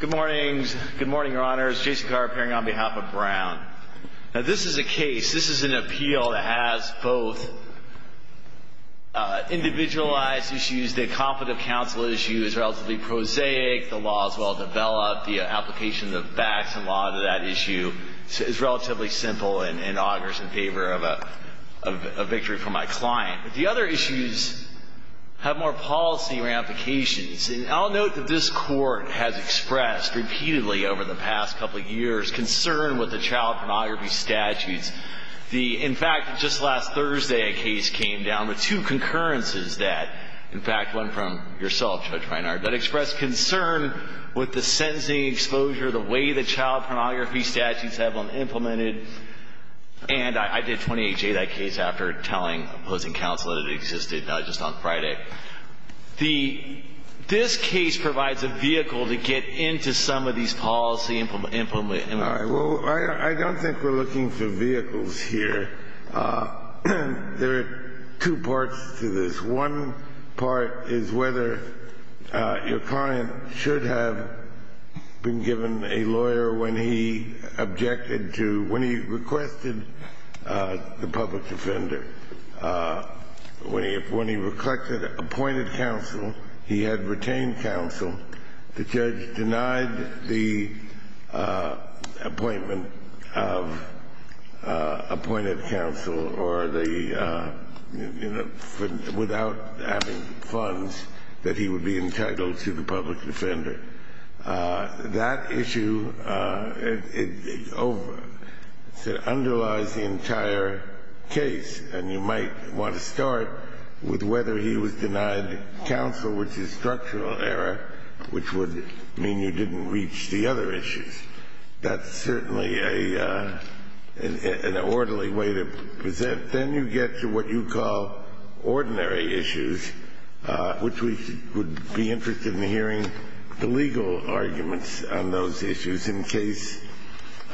Good morning, your honors. Jason Carr, appearing on behalf of Brown. Now this is a case, this is an appeal that has both individualized issues, the conflict of counsel issue is relatively prosaic, the law is well-developed, the application of facts and law to that issue is relatively simple and augurs in favor of a victory for my client. The other issues have more policy ramifications. And I'll note that this Court has expressed repeatedly over the past couple of years concern with the child pornography statutes. In fact, just last Thursday a case came down with two concurrences that, in fact, one from yourself, Judge Reinhardt, that expressed concern with the sentencing exposure, the way the child pornography statutes have been implemented. And I did 28-J that case after telling opposing counsel that it existed just on Friday. This case provides a vehicle to get into some of these policy implementations. Well, I don't think we're looking for vehicles here. There are two parts to this. One part is whether your client should have been given a lawyer when he objected to, when he requested the public defender. When he requested appointed counsel, he had retained counsel. The judge denied the appointment of appointed counsel or the, you know, without having funds that he would be entitled to the public defender. That issue underlies the entire case. And you might want to start with whether he was denied counsel, which is structural error, which would mean you didn't reach the other issues. That's certainly an orderly way to present. But then you get to what you call ordinary issues, which we would be interested in hearing the legal arguments on those issues in case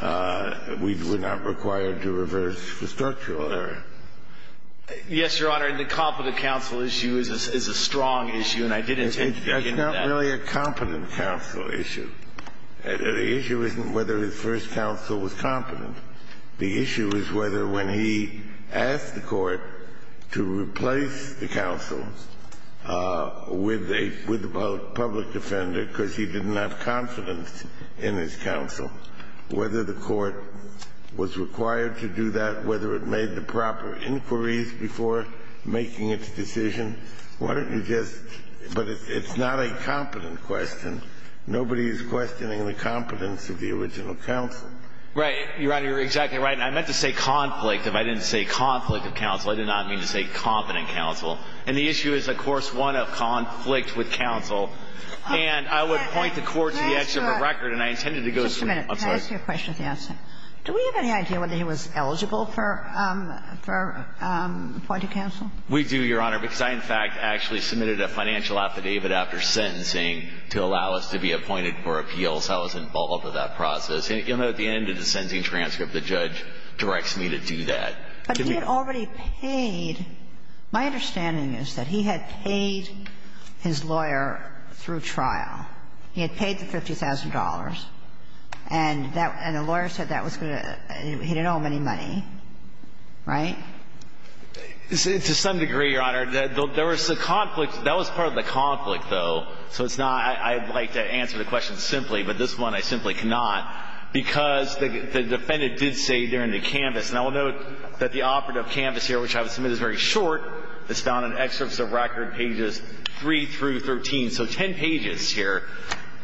we're not required to reverse the structural error. Yes, Your Honor. And the competent counsel issue is a strong issue, and I did indicate that. It's not really a competent counsel issue. The issue isn't whether his first counsel was competent. The issue is whether when he asked the court to replace the counsel with a public defender because he didn't have confidence in his counsel, whether the court was required to do that, whether it made the proper inquiries before making its decision. Why don't you just – but it's not a competent question. Nobody is questioning the competence of the original counsel. Your Honor, you're exactly right. And I meant to say conflict. If I didn't say conflict of counsel, I did not mean to say competent counsel. And the issue is, of course, one of conflict with counsel. And I would point the court to the edge of a record, and I intended to go through – I'm sorry. Just a minute. Can I ask you a question with the answer? Do we have any idea whether he was eligible for appointed counsel? We do, Your Honor, because I, in fact, actually submitted a financial affidavit after sentencing to allow us to be appointed for appeals. I was involved with that process. You'll note at the end of the sentencing transcript, the judge directs me to do that. But he had already paid – my understanding is that he had paid his lawyer through trial. He had paid the $50,000, and that – and the lawyer said that was going to – he didn't owe him any money, right? To some degree, Your Honor. There was a conflict. That was part of the conflict, though. So it's not – I would like to answer the question simply, but this one I simply cannot, because the defendant did say during the canvass – and I will note that the operative canvass here, which I have submitted as very short, is found in excerpts of record pages 3 through 13. So 10 pages here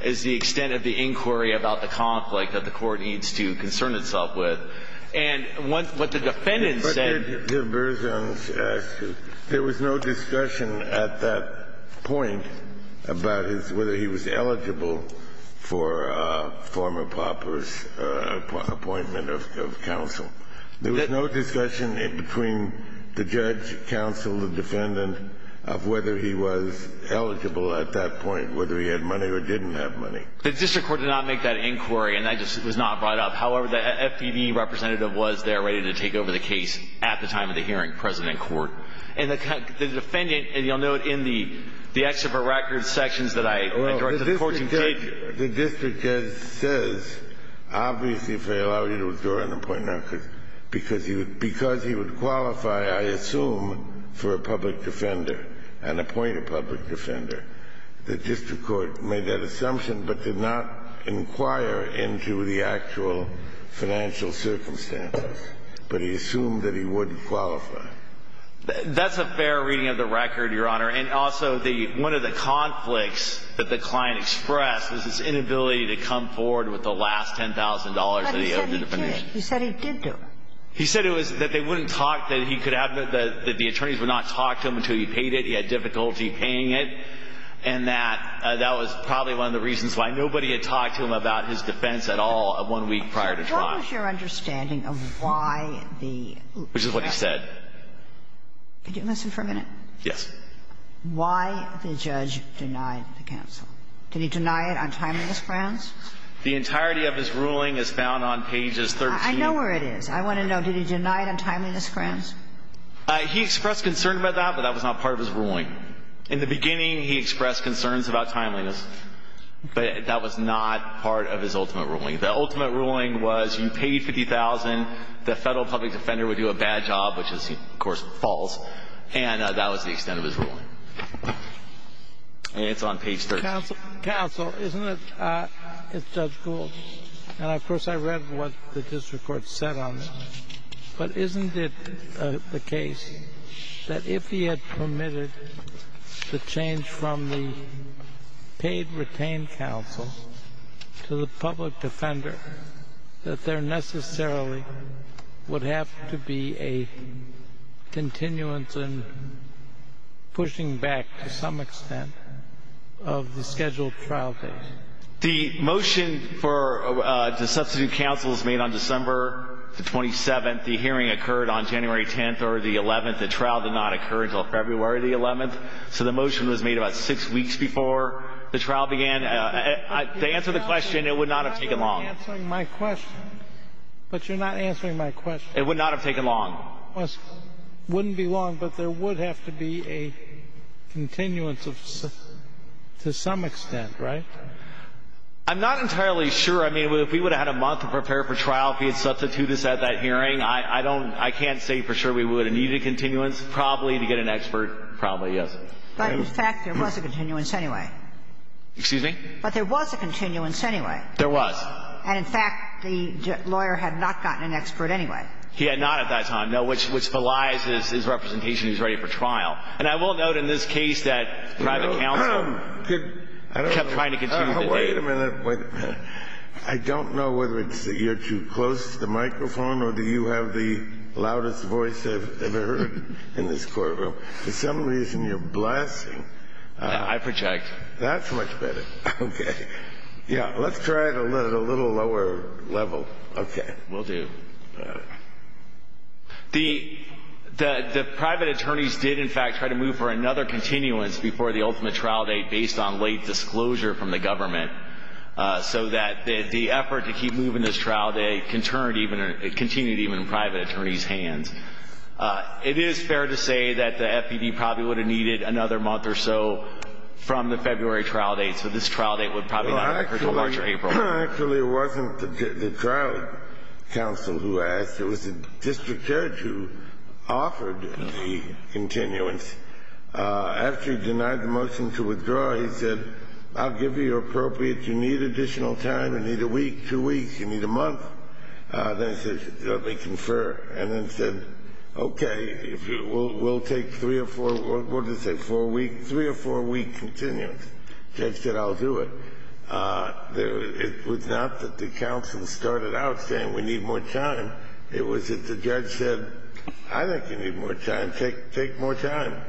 is the extent of the inquiry about the conflict that the Court needs to concern itself with. And what the defendant said – But, Your Honor, there was no discussion at that point about his – whether he was eligible at that point, whether he had money or didn't have money. The district court did not make that inquiry, and that just was not brought up. However, the FPD representative was there ready to take over the case at the time of the hearing, President Court. And the defendant – and you'll note in the excerpt of record sections that I directed the court to take. The district judge says, obviously, if they allow you to withdraw an appointment, because he would qualify, I assume, for a public defender and appoint a public defender. The district court made that assumption but did not inquire into the actual financial circumstances. But he assumed that he wouldn't qualify. That's a fair reading of the record, Your Honor. And also, the – one of the conflicts that the client expressed was his inability to come forward with the last $10,000 that he owed the defendant. But he said he did. He said he did do it. He said it was that they wouldn't talk, that he could have – that the attorneys would not talk to him until he paid it. He had difficulty paying it. And that that was probably one of the reasons why nobody had talked to him about his defense at all one week prior to trial. What was your understanding of why the – Which is what he said. Could you listen for a minute? Yes. Why the judge denied the counsel? Did he deny it on timeliness grounds? The entirety of his ruling is found on pages 13. I know where it is. I want to know, did he deny it on timeliness grounds? He expressed concern about that, but that was not part of his ruling. In the beginning, he expressed concerns about timeliness. But that was not part of his ultimate ruling. The ultimate ruling was you paid $50,000, the Federal public defender would do a bad job, which is, of course, false. And that was the extent of his ruling. And it's on page 13. Counsel, isn't it – it's judge Gould. And, of course, I read what the district court said on it. But isn't it the case that if he had permitted the change from the paid retained counsel to the public defender, that there necessarily would have to be a continuance and pushing back to some extent of the scheduled trial date? The motion for the substitute counsel was made on December the 27th. The hearing occurred on January 10th or the 11th. The trial did not occur until February the 11th. So the motion was made about six weeks before the trial began. The answer to the question, it would not have taken long. Answering my question. But you're not answering my question. It would not have taken long. It wouldn't be long, but there would have to be a continuance to some extent, right? I'm not entirely sure. I mean, if we would have had a month to prepare for trial if he had substituted us at that hearing, I don't – I can't say for sure we would have needed continuance. Probably to get an expert, probably, yes. But, in fact, there was a continuance anyway. Excuse me? But there was a continuance anyway. There was. And, in fact, the lawyer had not gotten an expert anyway. He had not at that time, no, which belies his representation he's ready for trial. And I will note in this case that private counsel kept trying to continue the date. Wait a minute. I don't know whether it's you're too close to the microphone or do you have the loudest voice I've ever heard in this courtroom. For some reason, you're blasting. I project. That's much better. Okay. Yeah, let's try it a little lower level. Okay. Will do. The private attorneys did, in fact, try to move for another continuance before the ultimate trial date based on late disclosure from the government so that the effort to keep moving this trial date continued even in private attorneys' hands. It is fair to say that the FPD probably would have needed another month or so from the February trial date, so this trial date would probably not have occurred until March or April. Actually, it wasn't the trial counsel who asked. It was the district judge who offered the continuance. After he denied the motion to withdraw, he said, I'll give you your appropriate. You need additional time. You need a week, two weeks. You need a month. Then he said, let me confer. And then said, okay, we'll take three or four, what did he say, four weeks? Three or four weeks continuance. Judge said, I'll do it. It was not that the counsel started out saying we need more time. It was that the judge said, I think you need more time. Take more time.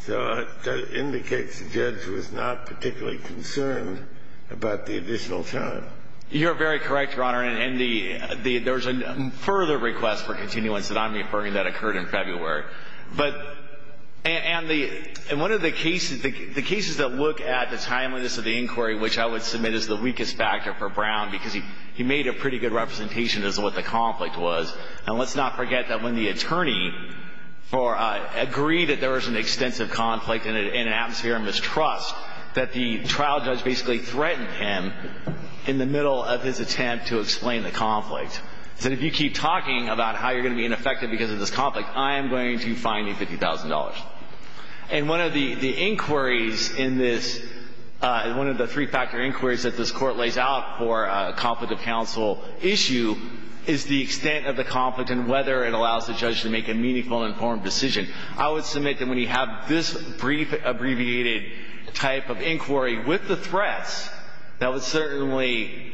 So that indicates the judge was not particularly concerned about the additional time. You're very correct, Your Honor. And there was a further request for continuance that I'm referring to that occurred in February. And one of the cases, the cases that look at the timeliness of the inquiry, which I would submit is the weakest factor for Brown, because he made a pretty good representation as to what the conflict was. And let's not forget that when the attorney agreed that there was an extensive conflict and an atmosphere of mistrust, that the trial judge basically threatened him in the middle of his attempt to explain the conflict. He said, if you keep talking about how you're going to be ineffective because of this conflict, I am going to fine you $50,000. And one of the inquiries in this, one of the three-factor inquiries that this court lays out for a conflict of counsel issue is the extent of the conflict and whether it allows the judge to make a meaningful and informed decision. I would submit that when you have this abbreviated type of inquiry with the threats, that would certainly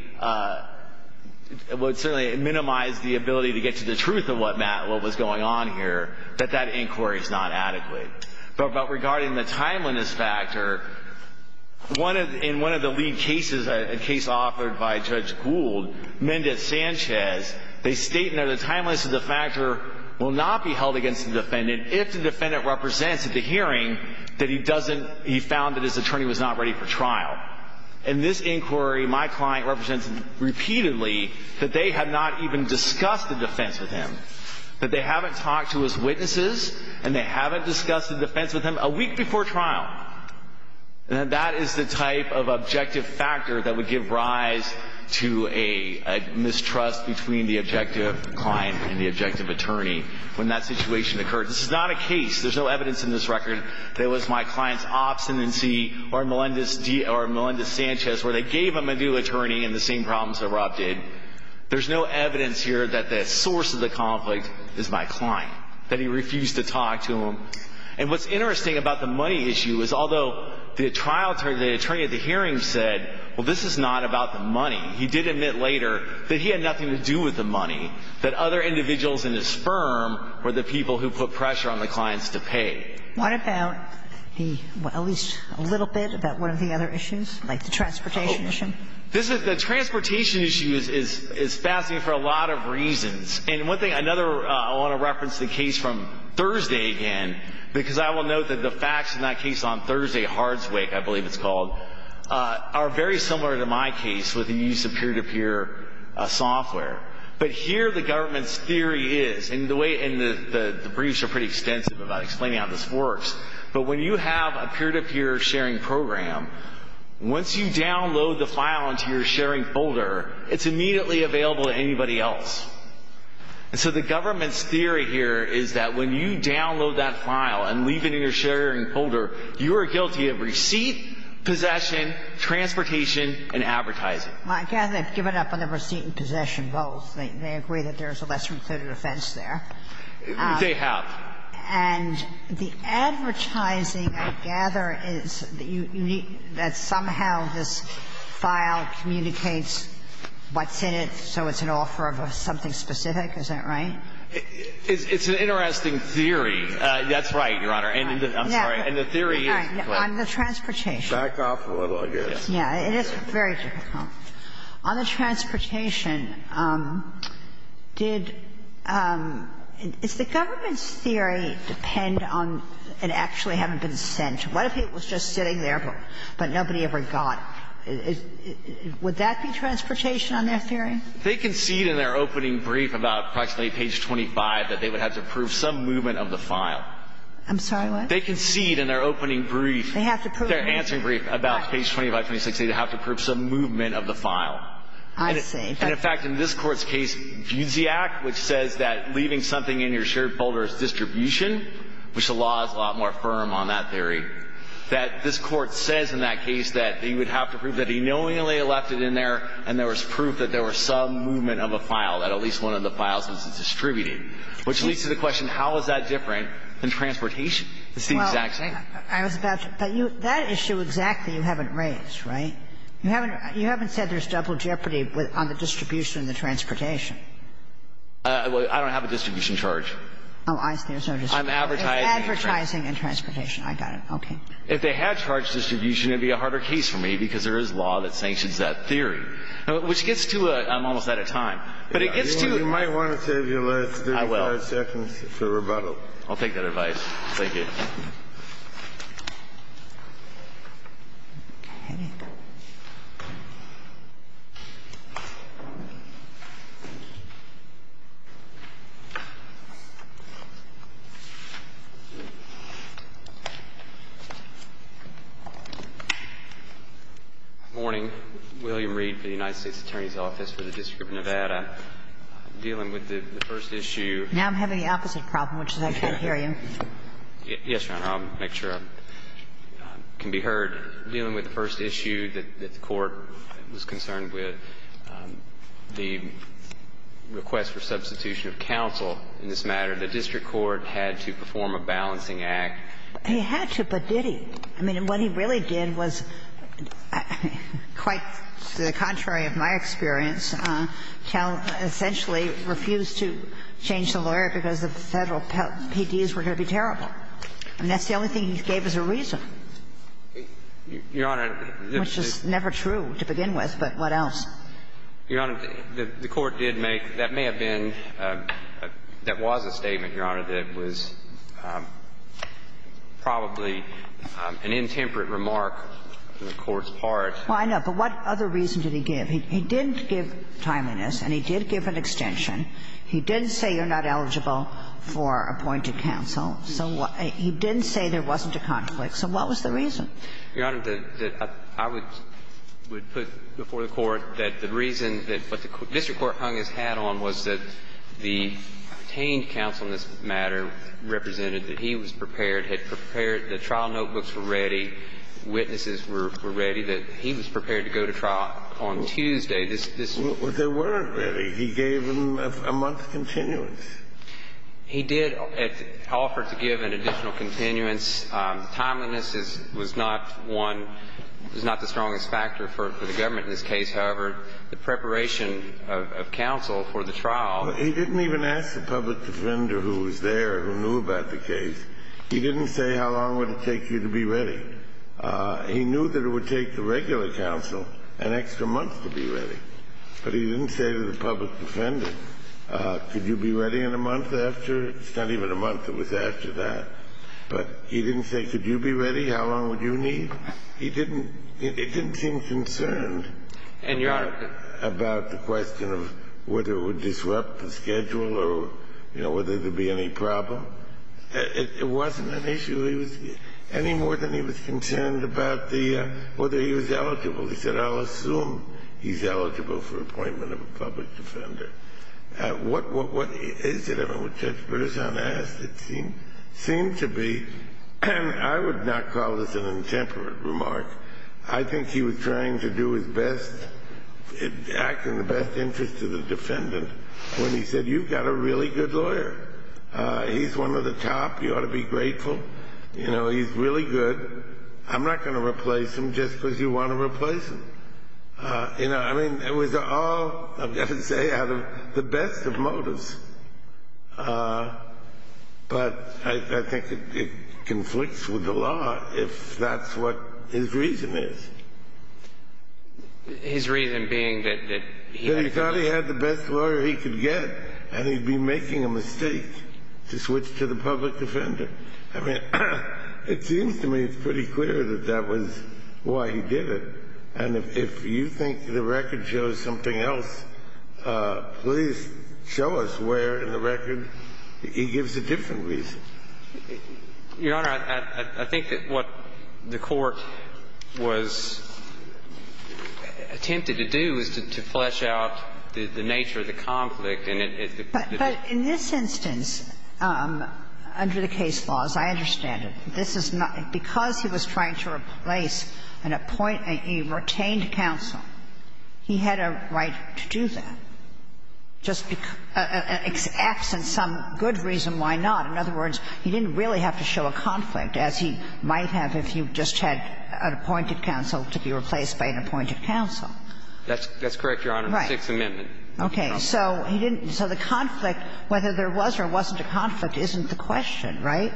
minimize the ability to get to the truth of what was going on here, that that inquiry is not adequate. But regarding the timeliness factor, in one of the lead cases, a case offered by Judge Gould, Mendez-Sanchez, they state that the timeliness of the factor will not be held against the defendant if the defendant represents at the hearing that he found that his attorney was not ready for trial. In this inquiry, my client represents repeatedly that they have not even discussed the defense with him, that they haven't talked to his witnesses, and they haven't discussed the defense with him a week before trial. And that is the type of objective factor that would give rise to a mistrust between the objective client and the objective attorney when that situation occurred. This is not a case. There's no evidence in this record that it was my client's obstinacy or Melendez-Sanchez, where they gave him a new attorney and the same problems that Rob did. There's no evidence here that the source of the conflict is my client, that he refused to talk to him. And what's interesting about the money issue is although the trial attorney, the attorney at the hearing said, well, this is not about the money, he did admit later that he had nothing to do with the money, that other individuals in his firm were the people who put pressure on the clients to pay. What about the, well, at least a little bit about one of the other issues, like the transportation issue? The transportation issue is fascinating for a lot of reasons. And one thing, another, I want to reference the case from Thursday again, because I will note that the facts in that case on Thursday, Hardswick, I believe it's called, are very similar to my case with the use of peer-to-peer software. But here the government's theory is, and the briefs are pretty extensive about explaining how this works, but when you have a peer-to-peer sharing program, once you download the file into your sharing folder, it's immediately available to anybody else. And so the government's theory here is that when you download that file and leave it in your sharing folder, you are guilty of receipt, possession, transportation, and advertising. Well, I gather they've given up on the receipt and possession both. They agree that there's a lesser-included offense there. They have. And the advertising, I gather, is that somehow this file communicates what's in it, so it's an offer of something specific. Is that right? It's an interesting theory. That's right, Your Honor. I'm sorry. And the theory is that the transportation. Back off a little, I guess. Yeah. It is very difficult. On the transportation, did the government's theory depend on it actually having been sent? What if it was just sitting there, but nobody ever got it? Would that be transportation on their theory? They concede in their opening brief about approximately page 25 that they would have to prove some movement of the file. I'm sorry, what? They concede in their opening brief. They have to prove. In their answering brief about page 25, 26, they have to prove some movement of the file. I see. And, in fact, in this Court's case, Fusiac, which says that leaving something in your shared folder is distribution, which the law is a lot more firm on that theory, that this Court says in that case that you would have to prove that he knowingly left it in there and there was proof that there was some movement of a file, that at least one of the files was distributed, which leads to the question, how is that different than transportation? It's the exact same. I was about to. But that issue exactly you haven't raised, right? You haven't said there's double jeopardy on the distribution and the transportation. I don't have a distribution charge. Oh, I see. There's no distribution. I'm advertising. Advertising and transportation. I got it. Okay. If they had charged distribution, it would be a harder case for me because there is law that sanctions that theory, which gets to a --"I'm almost out of time." But it gets to a --" You might want to save your last 35 seconds for rebuttal. I'll take that advice. Thank you. Okay. Morning. William Reed for the United States Attorney's Office for the District of Nevada. I'm dealing with the first issue. Now I'm having the opposite problem, which is I can't hear you. Yes, Your Honor. I'll make sure I can be heard. I'm dealing with the first issue that the Court was concerned with, the request for substitution of counsel in this matter. The district court had to perform a balancing act. They had to, but did he? I mean, what he really did was quite the contrary of my experience. He refused to change the lawyer because the federal PDs were going to be terrible. I mean, that's the only thing he gave as a reason. Your Honor. Which is never true to begin with, but what else? Your Honor, the Court did make that may have been that was a statement, Your Honor, that was probably an intemperate remark on the Court's part. Well, I know. But what other reason did he give? He didn't give timeliness and he did give an extension. He didn't say you're not eligible for appointed counsel. He didn't say there wasn't a conflict. So what was the reason? Your Honor, I would put before the Court that the reason that what the district court hung its hat on was that the obtained counsel in this matter represented that he was prepared, had prepared, the trial notebooks were ready, witnesses were ready, that he was prepared to go to trial on Tuesday. There weren't ready. He gave them a month's continuance. He did offer to give an additional continuance. Timeliness was not one, was not the strongest factor for the government in this case. However, the preparation of counsel for the trial. He didn't even ask the public defender who was there who knew about the case. He didn't say how long would it take you to be ready. He knew that it would take the regular counsel an extra month to be ready. But he didn't say to the public defender, could you be ready in a month after? It's not even a month. It was after that. But he didn't say, could you be ready? How long would you need? He didn't seem concerned about the question of whether it would disrupt the schedule or, you know, whether there would be any problem. It wasn't an issue any more than he was concerned about whether he was eligible. He said, I'll assume he's eligible for appointment of a public defender. What is it? I mean, Judge Berzon asked. It seemed to be, I would not call this an intemperate remark. I think he was trying to do his best, act in the best interest of the defendant when he said, you've got a really good lawyer. He's one of the top. You ought to be grateful. You know, he's really good. I'm not going to replace him just because you want to replace him. You know, I mean, it was all, I've got to say, out of the best of motives. But I think it conflicts with the law if that's what his reason is. His reason being that he had the best lawyer he could get and he'd be making a mistake to switch to the public defender. I mean, it seems to me it's pretty clear that that was why he did it. And if you think the record shows something else, please show us where in the record he gives a different reason. Your Honor, I think that what the Court was attempted to do is to flesh out the nature of the conflict But in this instance, under the case laws, I understand it. This is not – because he was trying to replace an appoint – a retained counsel, he had a right to do that, just because – acts in some good reason, why not? In other words, he didn't really have to show a conflict, as he might have if you just had an appointed counsel to be replaced by an appointed counsel. Right. Sixth Amendment. Okay. So he didn't – so the conflict, whether there was or wasn't a conflict, isn't the question, right?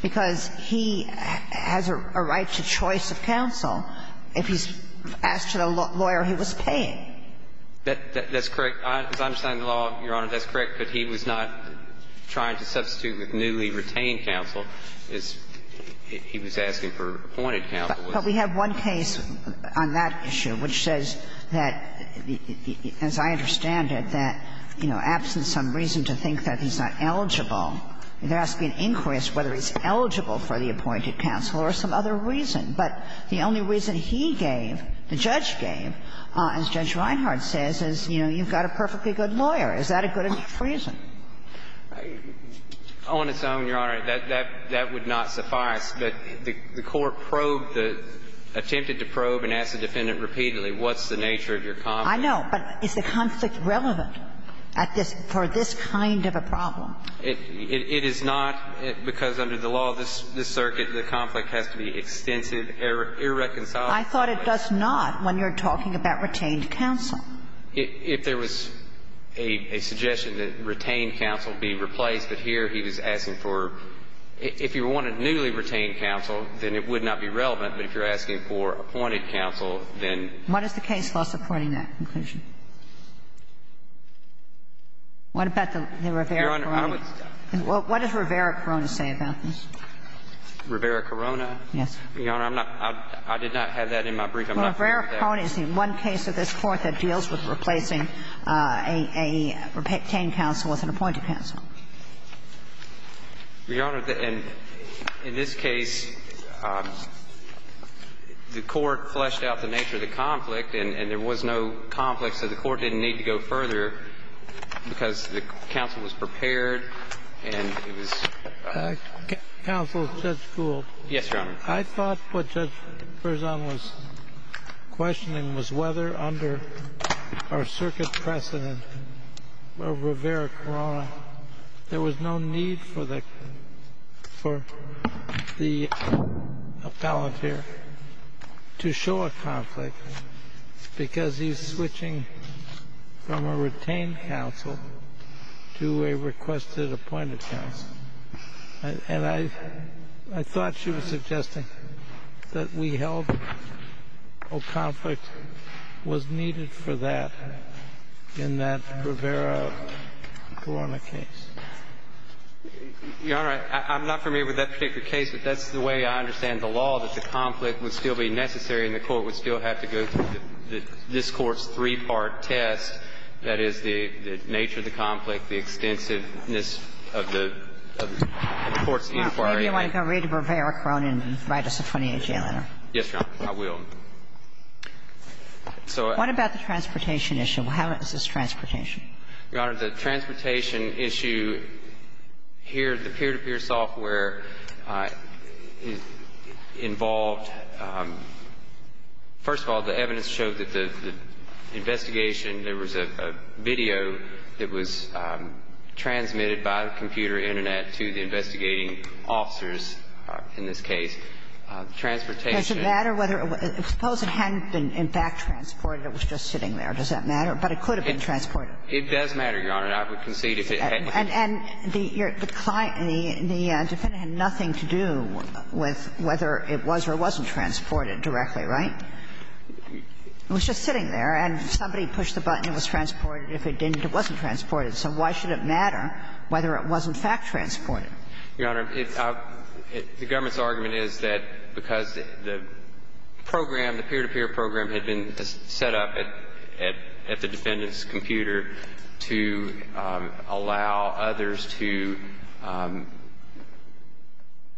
Because he has a right to choice of counsel if he's asked a lawyer he was paying. That's correct. As I understand the law, Your Honor, that's correct. But he was not trying to substitute with newly retained counsel. He was asking for appointed counsel. But we have one case on that issue which says that, as I understand it, that, you know, absent some reason to think that he's not eligible, there has to be an inquest whether he's eligible for the appointed counsel or some other reason. But the only reason he gave, the judge gave, as Judge Reinhart says, is, you know, you've got a perfectly good lawyer. Is that a good reason? On its own, Your Honor, that would not suffice. But the court probed, attempted to probe and asked the defendant repeatedly, what's the nature of your conflict? I know. But is the conflict relevant at this – for this kind of a problem? It is not, because under the law of this circuit, the conflict has to be extensive, irreconcilable. I thought it does not when you're talking about retained counsel. If there was a suggestion that retained counsel be replaced, but here he was asking for – if you wanted newly retained counsel, then it would not be relevant. But if you're asking for appointed counsel, then – What is the case law supporting that conclusion? What about the Rivera-Corona? Your Honor, I would – What does Rivera-Corona say about this? Rivera-Corona? Yes. Your Honor, I'm not – I did not have that in my brief. I'm not familiar with that. Well, Rivera-Corona is the one case of this Court that deals with replacing a retained counsel with an appointed counsel. Your Honor, in this case, the Court fleshed out the nature of the conflict, and there was no conflict, so the Court didn't need to go further because the counsel was prepared and it was – Counsel, Judge Gould. Yes, Your Honor. I thought what Judge Berzon was questioning was whether under our circuit precedent of Rivera-Corona, there was no need for the appellate here to show a conflict because he's switching from a retained counsel to a requested appointed counsel. And I thought she was suggesting that we held a conflict was needed for that in that Rivera-Corona case. Your Honor, I'm not familiar with that particular case, but that's the way I understand the law, that the conflict would still be necessary and the Court would still have to go through this Court's three-part test, that is, the nature of the conflict, the extensiveness of the Court's inquiry. Maybe you want to go over to Rivera-Corona and write us a 28-day letter. Yes, Your Honor. I will. What about the transportation issue? How is this transportation? Your Honor, the transportation issue here, the peer-to-peer software involved – first of all, the evidence showed that the investigation, there was a video that was transmitted by the computer internet to the investigating officers, in this case, transportation. Does it matter whether – suppose it hadn't been, in fact, transported. It was just sitting there. Does that matter? But it could have been transported. It does matter, Your Honor. I would concede if it hadn't. And the client, the defendant, had nothing to do with whether it was or wasn't transported directly, right? It was just sitting there. And somebody pushed the button. It was transported. If it didn't, it wasn't transported. So why should it matter whether it was, in fact, transported? Your Honor, the government's argument is that because the program, the peer-to-peer program had been set up at the defendant's computer to allow others to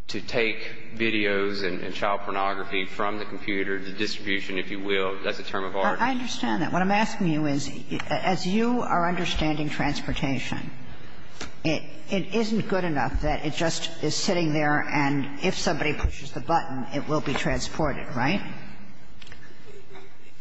take videos and child pornography from the computer, the distribution, if you will. That's a term of art. I understand that. What I'm asking you is, as you are understanding transportation, it isn't good enough that it just is sitting there and if somebody pushes the button, it will be transported, right?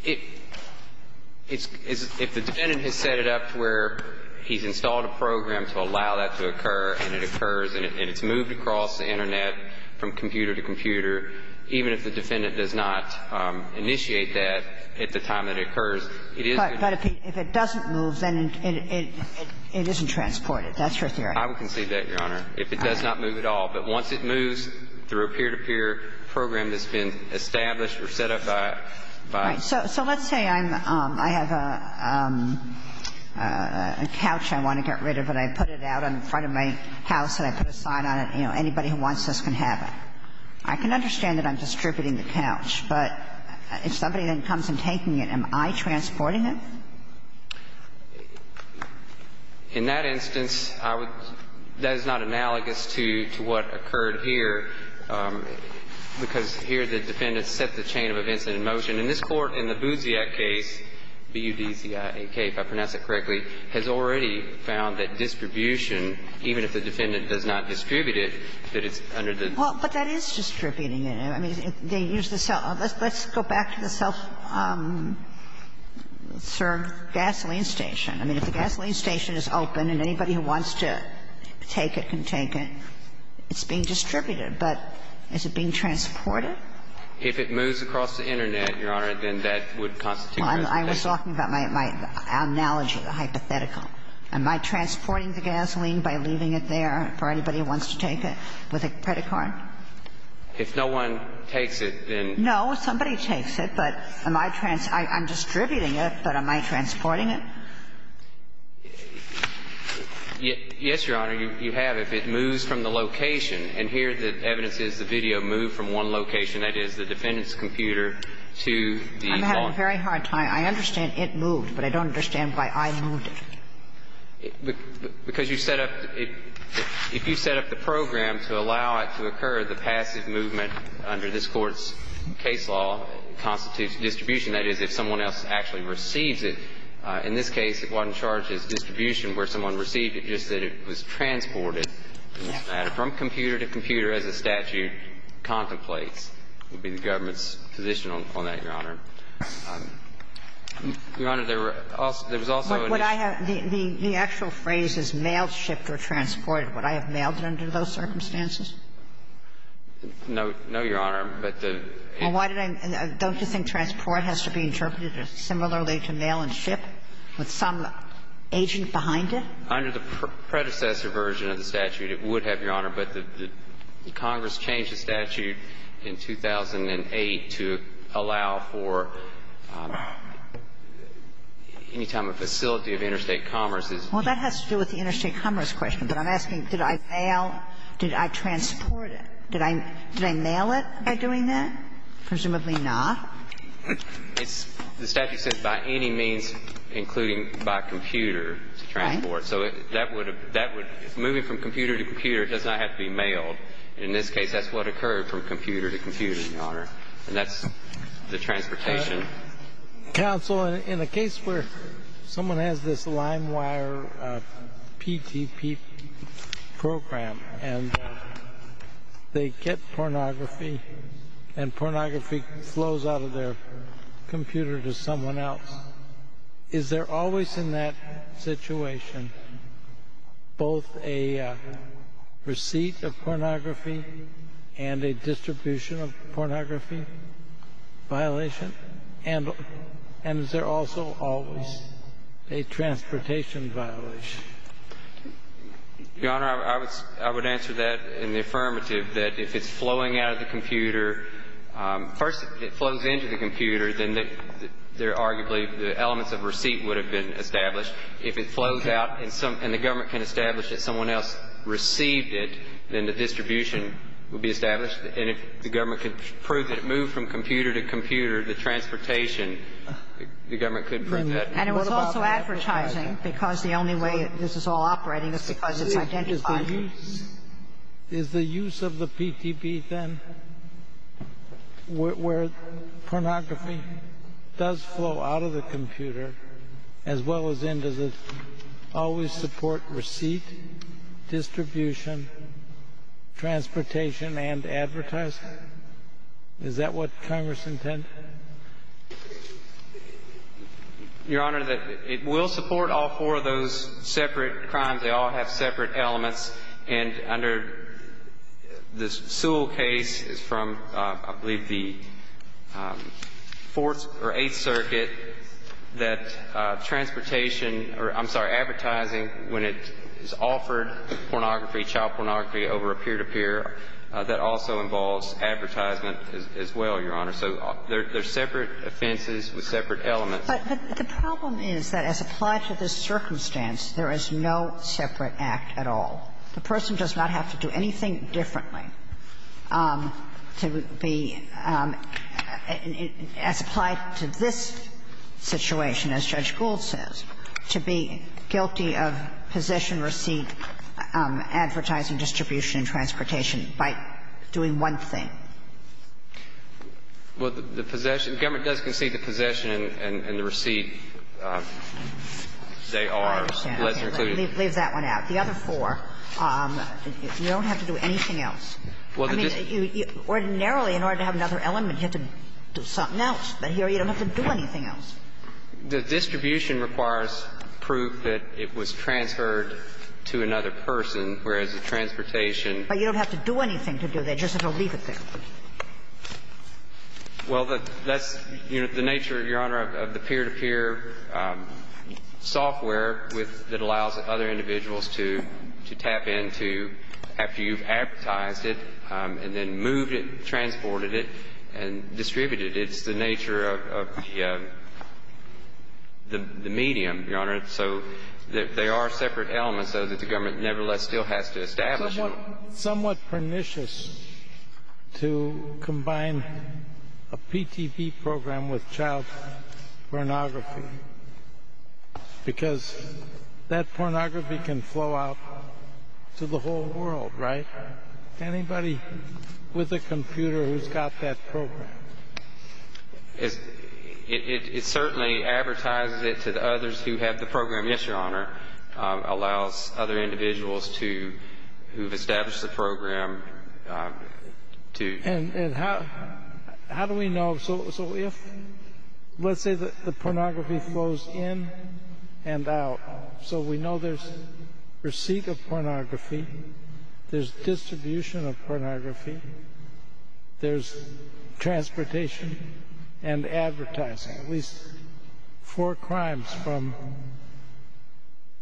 It's – if the defendant has set it up to where he's installed a program to allow that to occur and it occurs and it's moved across the internet from computer to computer, even if the defendant does not initiate that at the time that it occurs, it is going to be transported. But if it doesn't move, then it isn't transported. That's your theory. I would concede that, Your Honor, if it does not move at all. But once it moves through a peer-to-peer program that's been established or set up by – Right. So let's say I have a couch I want to get rid of and I put it out in front of my house and I put a sign on it. You know, anybody who wants this can have it. I can understand that I'm distributing the couch, but if somebody then comes and taking it, am I transporting it? In that instance, I would – that is not analogous to what occurred here, because here the defendant set the chain of events in motion. In this Court, in the Buziak case, B-U-D-Z-I-A-K, if I pronounced it correctly, has already found that distribution, even if the defendant does not distribute it, that it's under the – Well, but that is distributing it. I mean, they use the self – let's go back to the self-serve gasoline station. I mean, if the gasoline station is open and anybody who wants to take it can take it, it's being distributed. But is it being transported? No, I was talking about my analogy, the hypothetical. Am I transporting the gasoline by leaving it there for anybody who wants to take it with a credit card? If no one takes it, then – No, somebody takes it. But am I – I'm distributing it, but am I transporting it? Yes, Your Honor, you have if it moves from the location. And here the evidence is the video moved from one location, that is, the defendant's computer, to the – I'm having a very hard time. I understand it moved, but I don't understand why I moved it. Because you set up – if you set up the program to allow it to occur, the passive movement under this Court's case law constitutes distribution. That is, if someone else actually receives it. In this case, it wasn't charged as distribution where someone received it, just that it was transported from computer to computer as the statute contemplates, would be the government's position on that, Your Honor. Your Honor, there were also – there was also an issue – But would I have – the actual phrase is mailed, shipped, or transported. Would I have mailed it under those circumstances? No, Your Honor, but the – Well, why did I – don't you think transport has to be interpreted similarly to mail and ship, with some agent behind it? Under the predecessor version of the statute, it would have, Your Honor, but the Congress changed the statute in 2008 to allow for any time a facility of interstate commerce is – Well, that has to do with the interstate commerce question, but I'm asking, did I mail, did I transport it? Did I – did I mail it by doing that? Presumably not. It's – the statute says by any means, including by computer, to transport. So that would – that would – moving from computer to computer does not have to be mailed. In this case, that's what occurred from computer to computer, Your Honor, and that's the transportation. Counsel, in a case where someone has this LimeWire PTP program and they get pornography and pornography flows out of their computer to someone else, is there always in that and a distribution of pornography violation? And is there also always a transportation violation? Your Honor, I would – I would answer that in the affirmative, that if it's flowing out of the computer, first it flows into the computer, then there are arguably the elements of receipt would have been established. If it flows out and some – and the government can establish that someone else received it, then the distribution would be established, and if the government could prove that it moved from computer to computer, the transportation, the government could prove that. And it was also advertising, because the only way this is all operating is because it's identified. Is the use – is the use of the PTP, then, where pornography does flow out of the transportation and advertising? Is that what Congress intended? Your Honor, it will support all four of those separate crimes. They all have separate elements, and under the Sewell case, it's from, I believe, the Fourth or Eighth Circuit, that transportation – or I'm sorry, advertising, when it is offered pornography, child pornography over a peer-to-peer, that also involves advertisement as well, Your Honor. So there are separate offenses with separate elements. But the problem is that as applied to this circumstance, there is no separate act at all. The person does not have to do anything differently to be – as applied to this The problem is that the government does concede the possession, receipt, advertising, distribution, and transportation by doing one thing. Well, the possession – the government does concede the possession and the receipt. They are less included. I understand. Leave that one out. The other four, you don't have to do anything else. Well, the distribution – Well, that's the nature, Your Honor, of the peer-to-peer software that allows other individuals to tap into after you've advertised it and then moved it, transported it, and distributed it. It's the nature of the medium, Your Honor. So they are separate. They are separate. government nevertheless still has to establish them. It's somewhat pernicious to combine a PTV program with child pornography because that pornography can flow out to the whole world, right? Anybody with a computer who's got that program. It certainly advertises it to the others who have the program. Yes, Your Honor. Allows other individuals who've established the program to – And how do we know – so if – let's say the pornography flows in and out. So we know there's receipt of pornography, there's distribution of pornography, there's transportation and advertising. At least four crimes from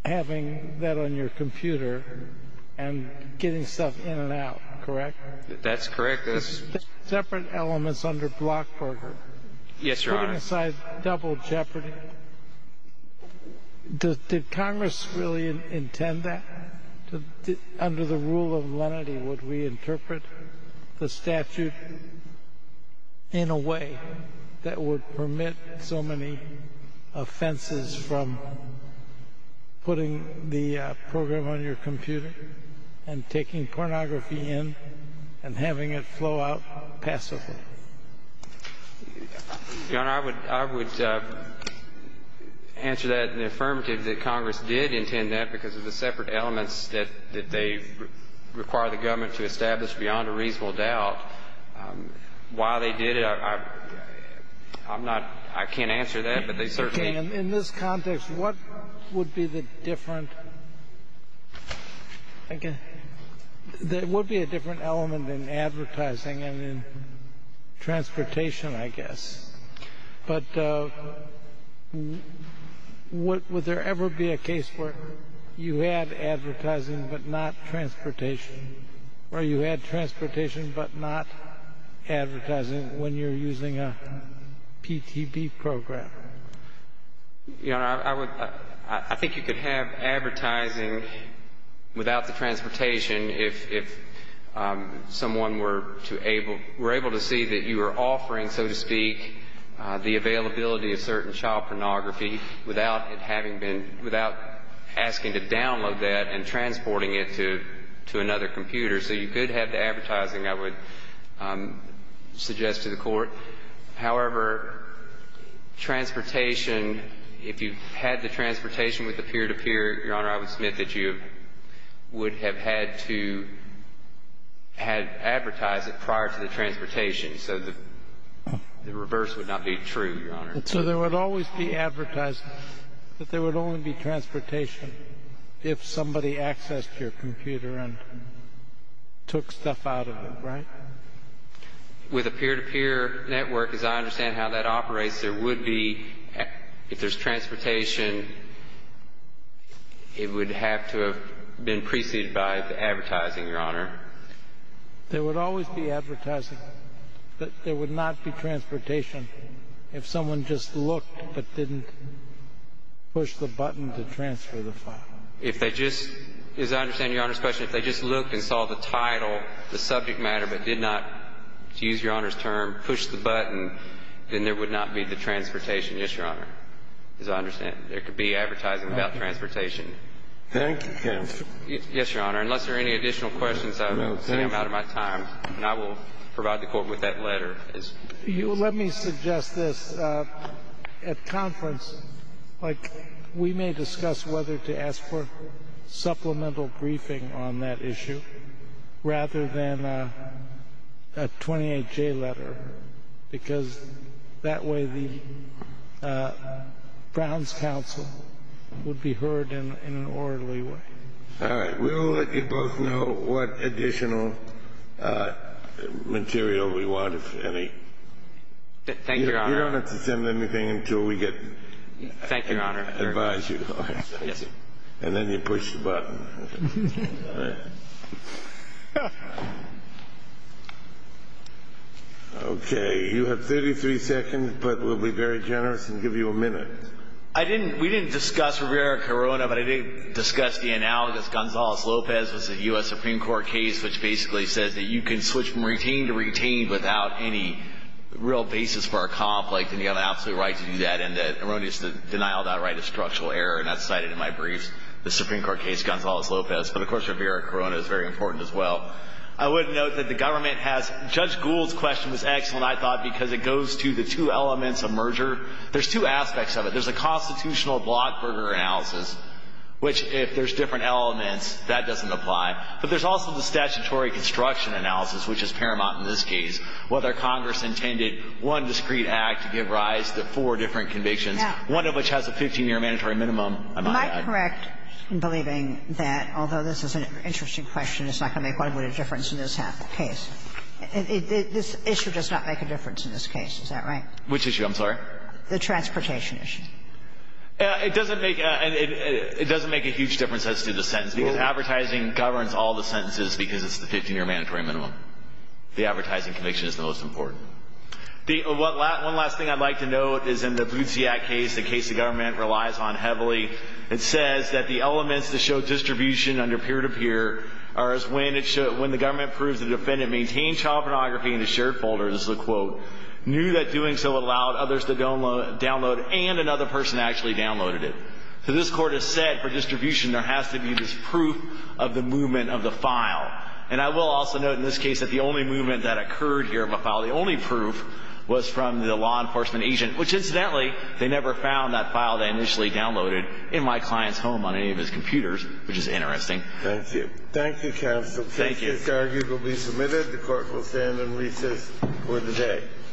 having that on your computer and getting stuff in and out. Correct? That's correct. Separate elements under Blockburger. Yes, Your Honor. Putting aside double jeopardy, did Congress really intend that? Under the rule of lenity, would we interpret the statute in a way that would permit so many offenses from putting the program on your computer and taking pornography in and having it flow out passively? Your Honor, I would answer that in the affirmative that Congress did intend that because of the separate elements that they require the government to establish beyond a reasonable doubt. Why they did it, I'm not – I can't answer that, but they certainly – Okay. In this context, what would be the different – there would be a different element in advertising and in transportation, I guess. But would there ever be a case where you had advertising but not transportation, or you had transportation but not advertising when you're using a PTB program? Your Honor, I think you could have advertising without the transportation if someone were to able – were able to see that you were offering, so to speak, the availability of certain child pornography without it having been – without asking to download that and transporting it to another computer. So you could have the advertising, I would suggest to the Court. However, transportation, if you had the transportation with the peer-to-peer, Your Honor, I would submit that you would have had to have advertised it prior to the transportation, so the reverse would not be true, Your Honor. So there would always be advertising, but there would only be transportation if somebody accessed your computer and took stuff out of it, right? With a peer-to-peer network, as I understand how that operates, there would be – if there's transportation, it would have to have been preceded by the advertising, Your Honor. There would always be advertising, but there would not be transportation if someone just looked but didn't push the button to transfer the file. If they just – as I understand Your Honor's question, if they just looked and saw the title, the subject matter, but did not, to use Your Honor's term, push the button, then there would not be the transportation, yes, Your Honor, as I understand. There could be advertising without transportation. Thank you, counsel. Yes, Your Honor. Unless there are any additional questions, I'm out of my time. And I will provide the Court with that letter. Let me suggest this. At conference, like, we may discuss whether to ask for supplemental briefing on that issue rather than a 28-J letter because that way the Browns counsel would be heard in an orderly way. All right. We'll let you both know what additional material we want, if any. Thank you, Your Honor. You don't have to send anything until we get – Thank you, Your Honor. – advise you. And then you push the button. All right. Okay. You have 33 seconds, but we'll be very generous and give you a minute. I didn't – we didn't discuss Rivera-Corona, but I did discuss the analogous. Gonzales-Lopez was a U.S. Supreme Court case which basically says that you can switch from retained to retained without any real basis for a conflict, and you have an absolute right to do that. And the erroneous denial of that right is structural error, and that's cited in my briefs. The Supreme Court case, Gonzales-Lopez. But, of course, Rivera-Corona is very important as well. I would note that the government has – Judge Gould's question was excellent, I thought, because it goes to the two elements of merger. There's two aspects of it. There's a constitutional blockburger analysis, which if there's different elements, that doesn't apply. But there's also the statutory construction analysis, which is paramount in this case, whether Congress intended one discrete act to give rise to four different convictions, one of which has a 15-year mandatory minimum. Am I correct? I'm correct in believing that, although this is an interesting question, it's not going to make quite a difference in this case. This issue does not make a difference in this case. Is that right? Which issue? I'm sorry? The transportation issue. It doesn't make a huge difference as to the sentence, because advertising governs all the sentences because it's the 15-year mandatory minimum. The advertising conviction is the most important. One last thing I'd like to note is in the Bluziak case, the case the government relies on heavily. It says that the elements that show distribution under peer-to-peer are as when the government proves the defendant maintained child pornography in his shared folder, this is a quote, knew that doing so allowed others to download and another person actually downloaded it. So this Court has said for distribution, there has to be this proof of the movement of the file. And I will also note in this case that the only movement that occurred here of a file, the only proof was from the law enforcement agent, which incidentally, they never found that file they initially downloaded in my client's home on any of his computers, which is interesting. Thank you. Thank you, Counsel. Thank you. This argument will be submitted. The Court will stand and recess for the day.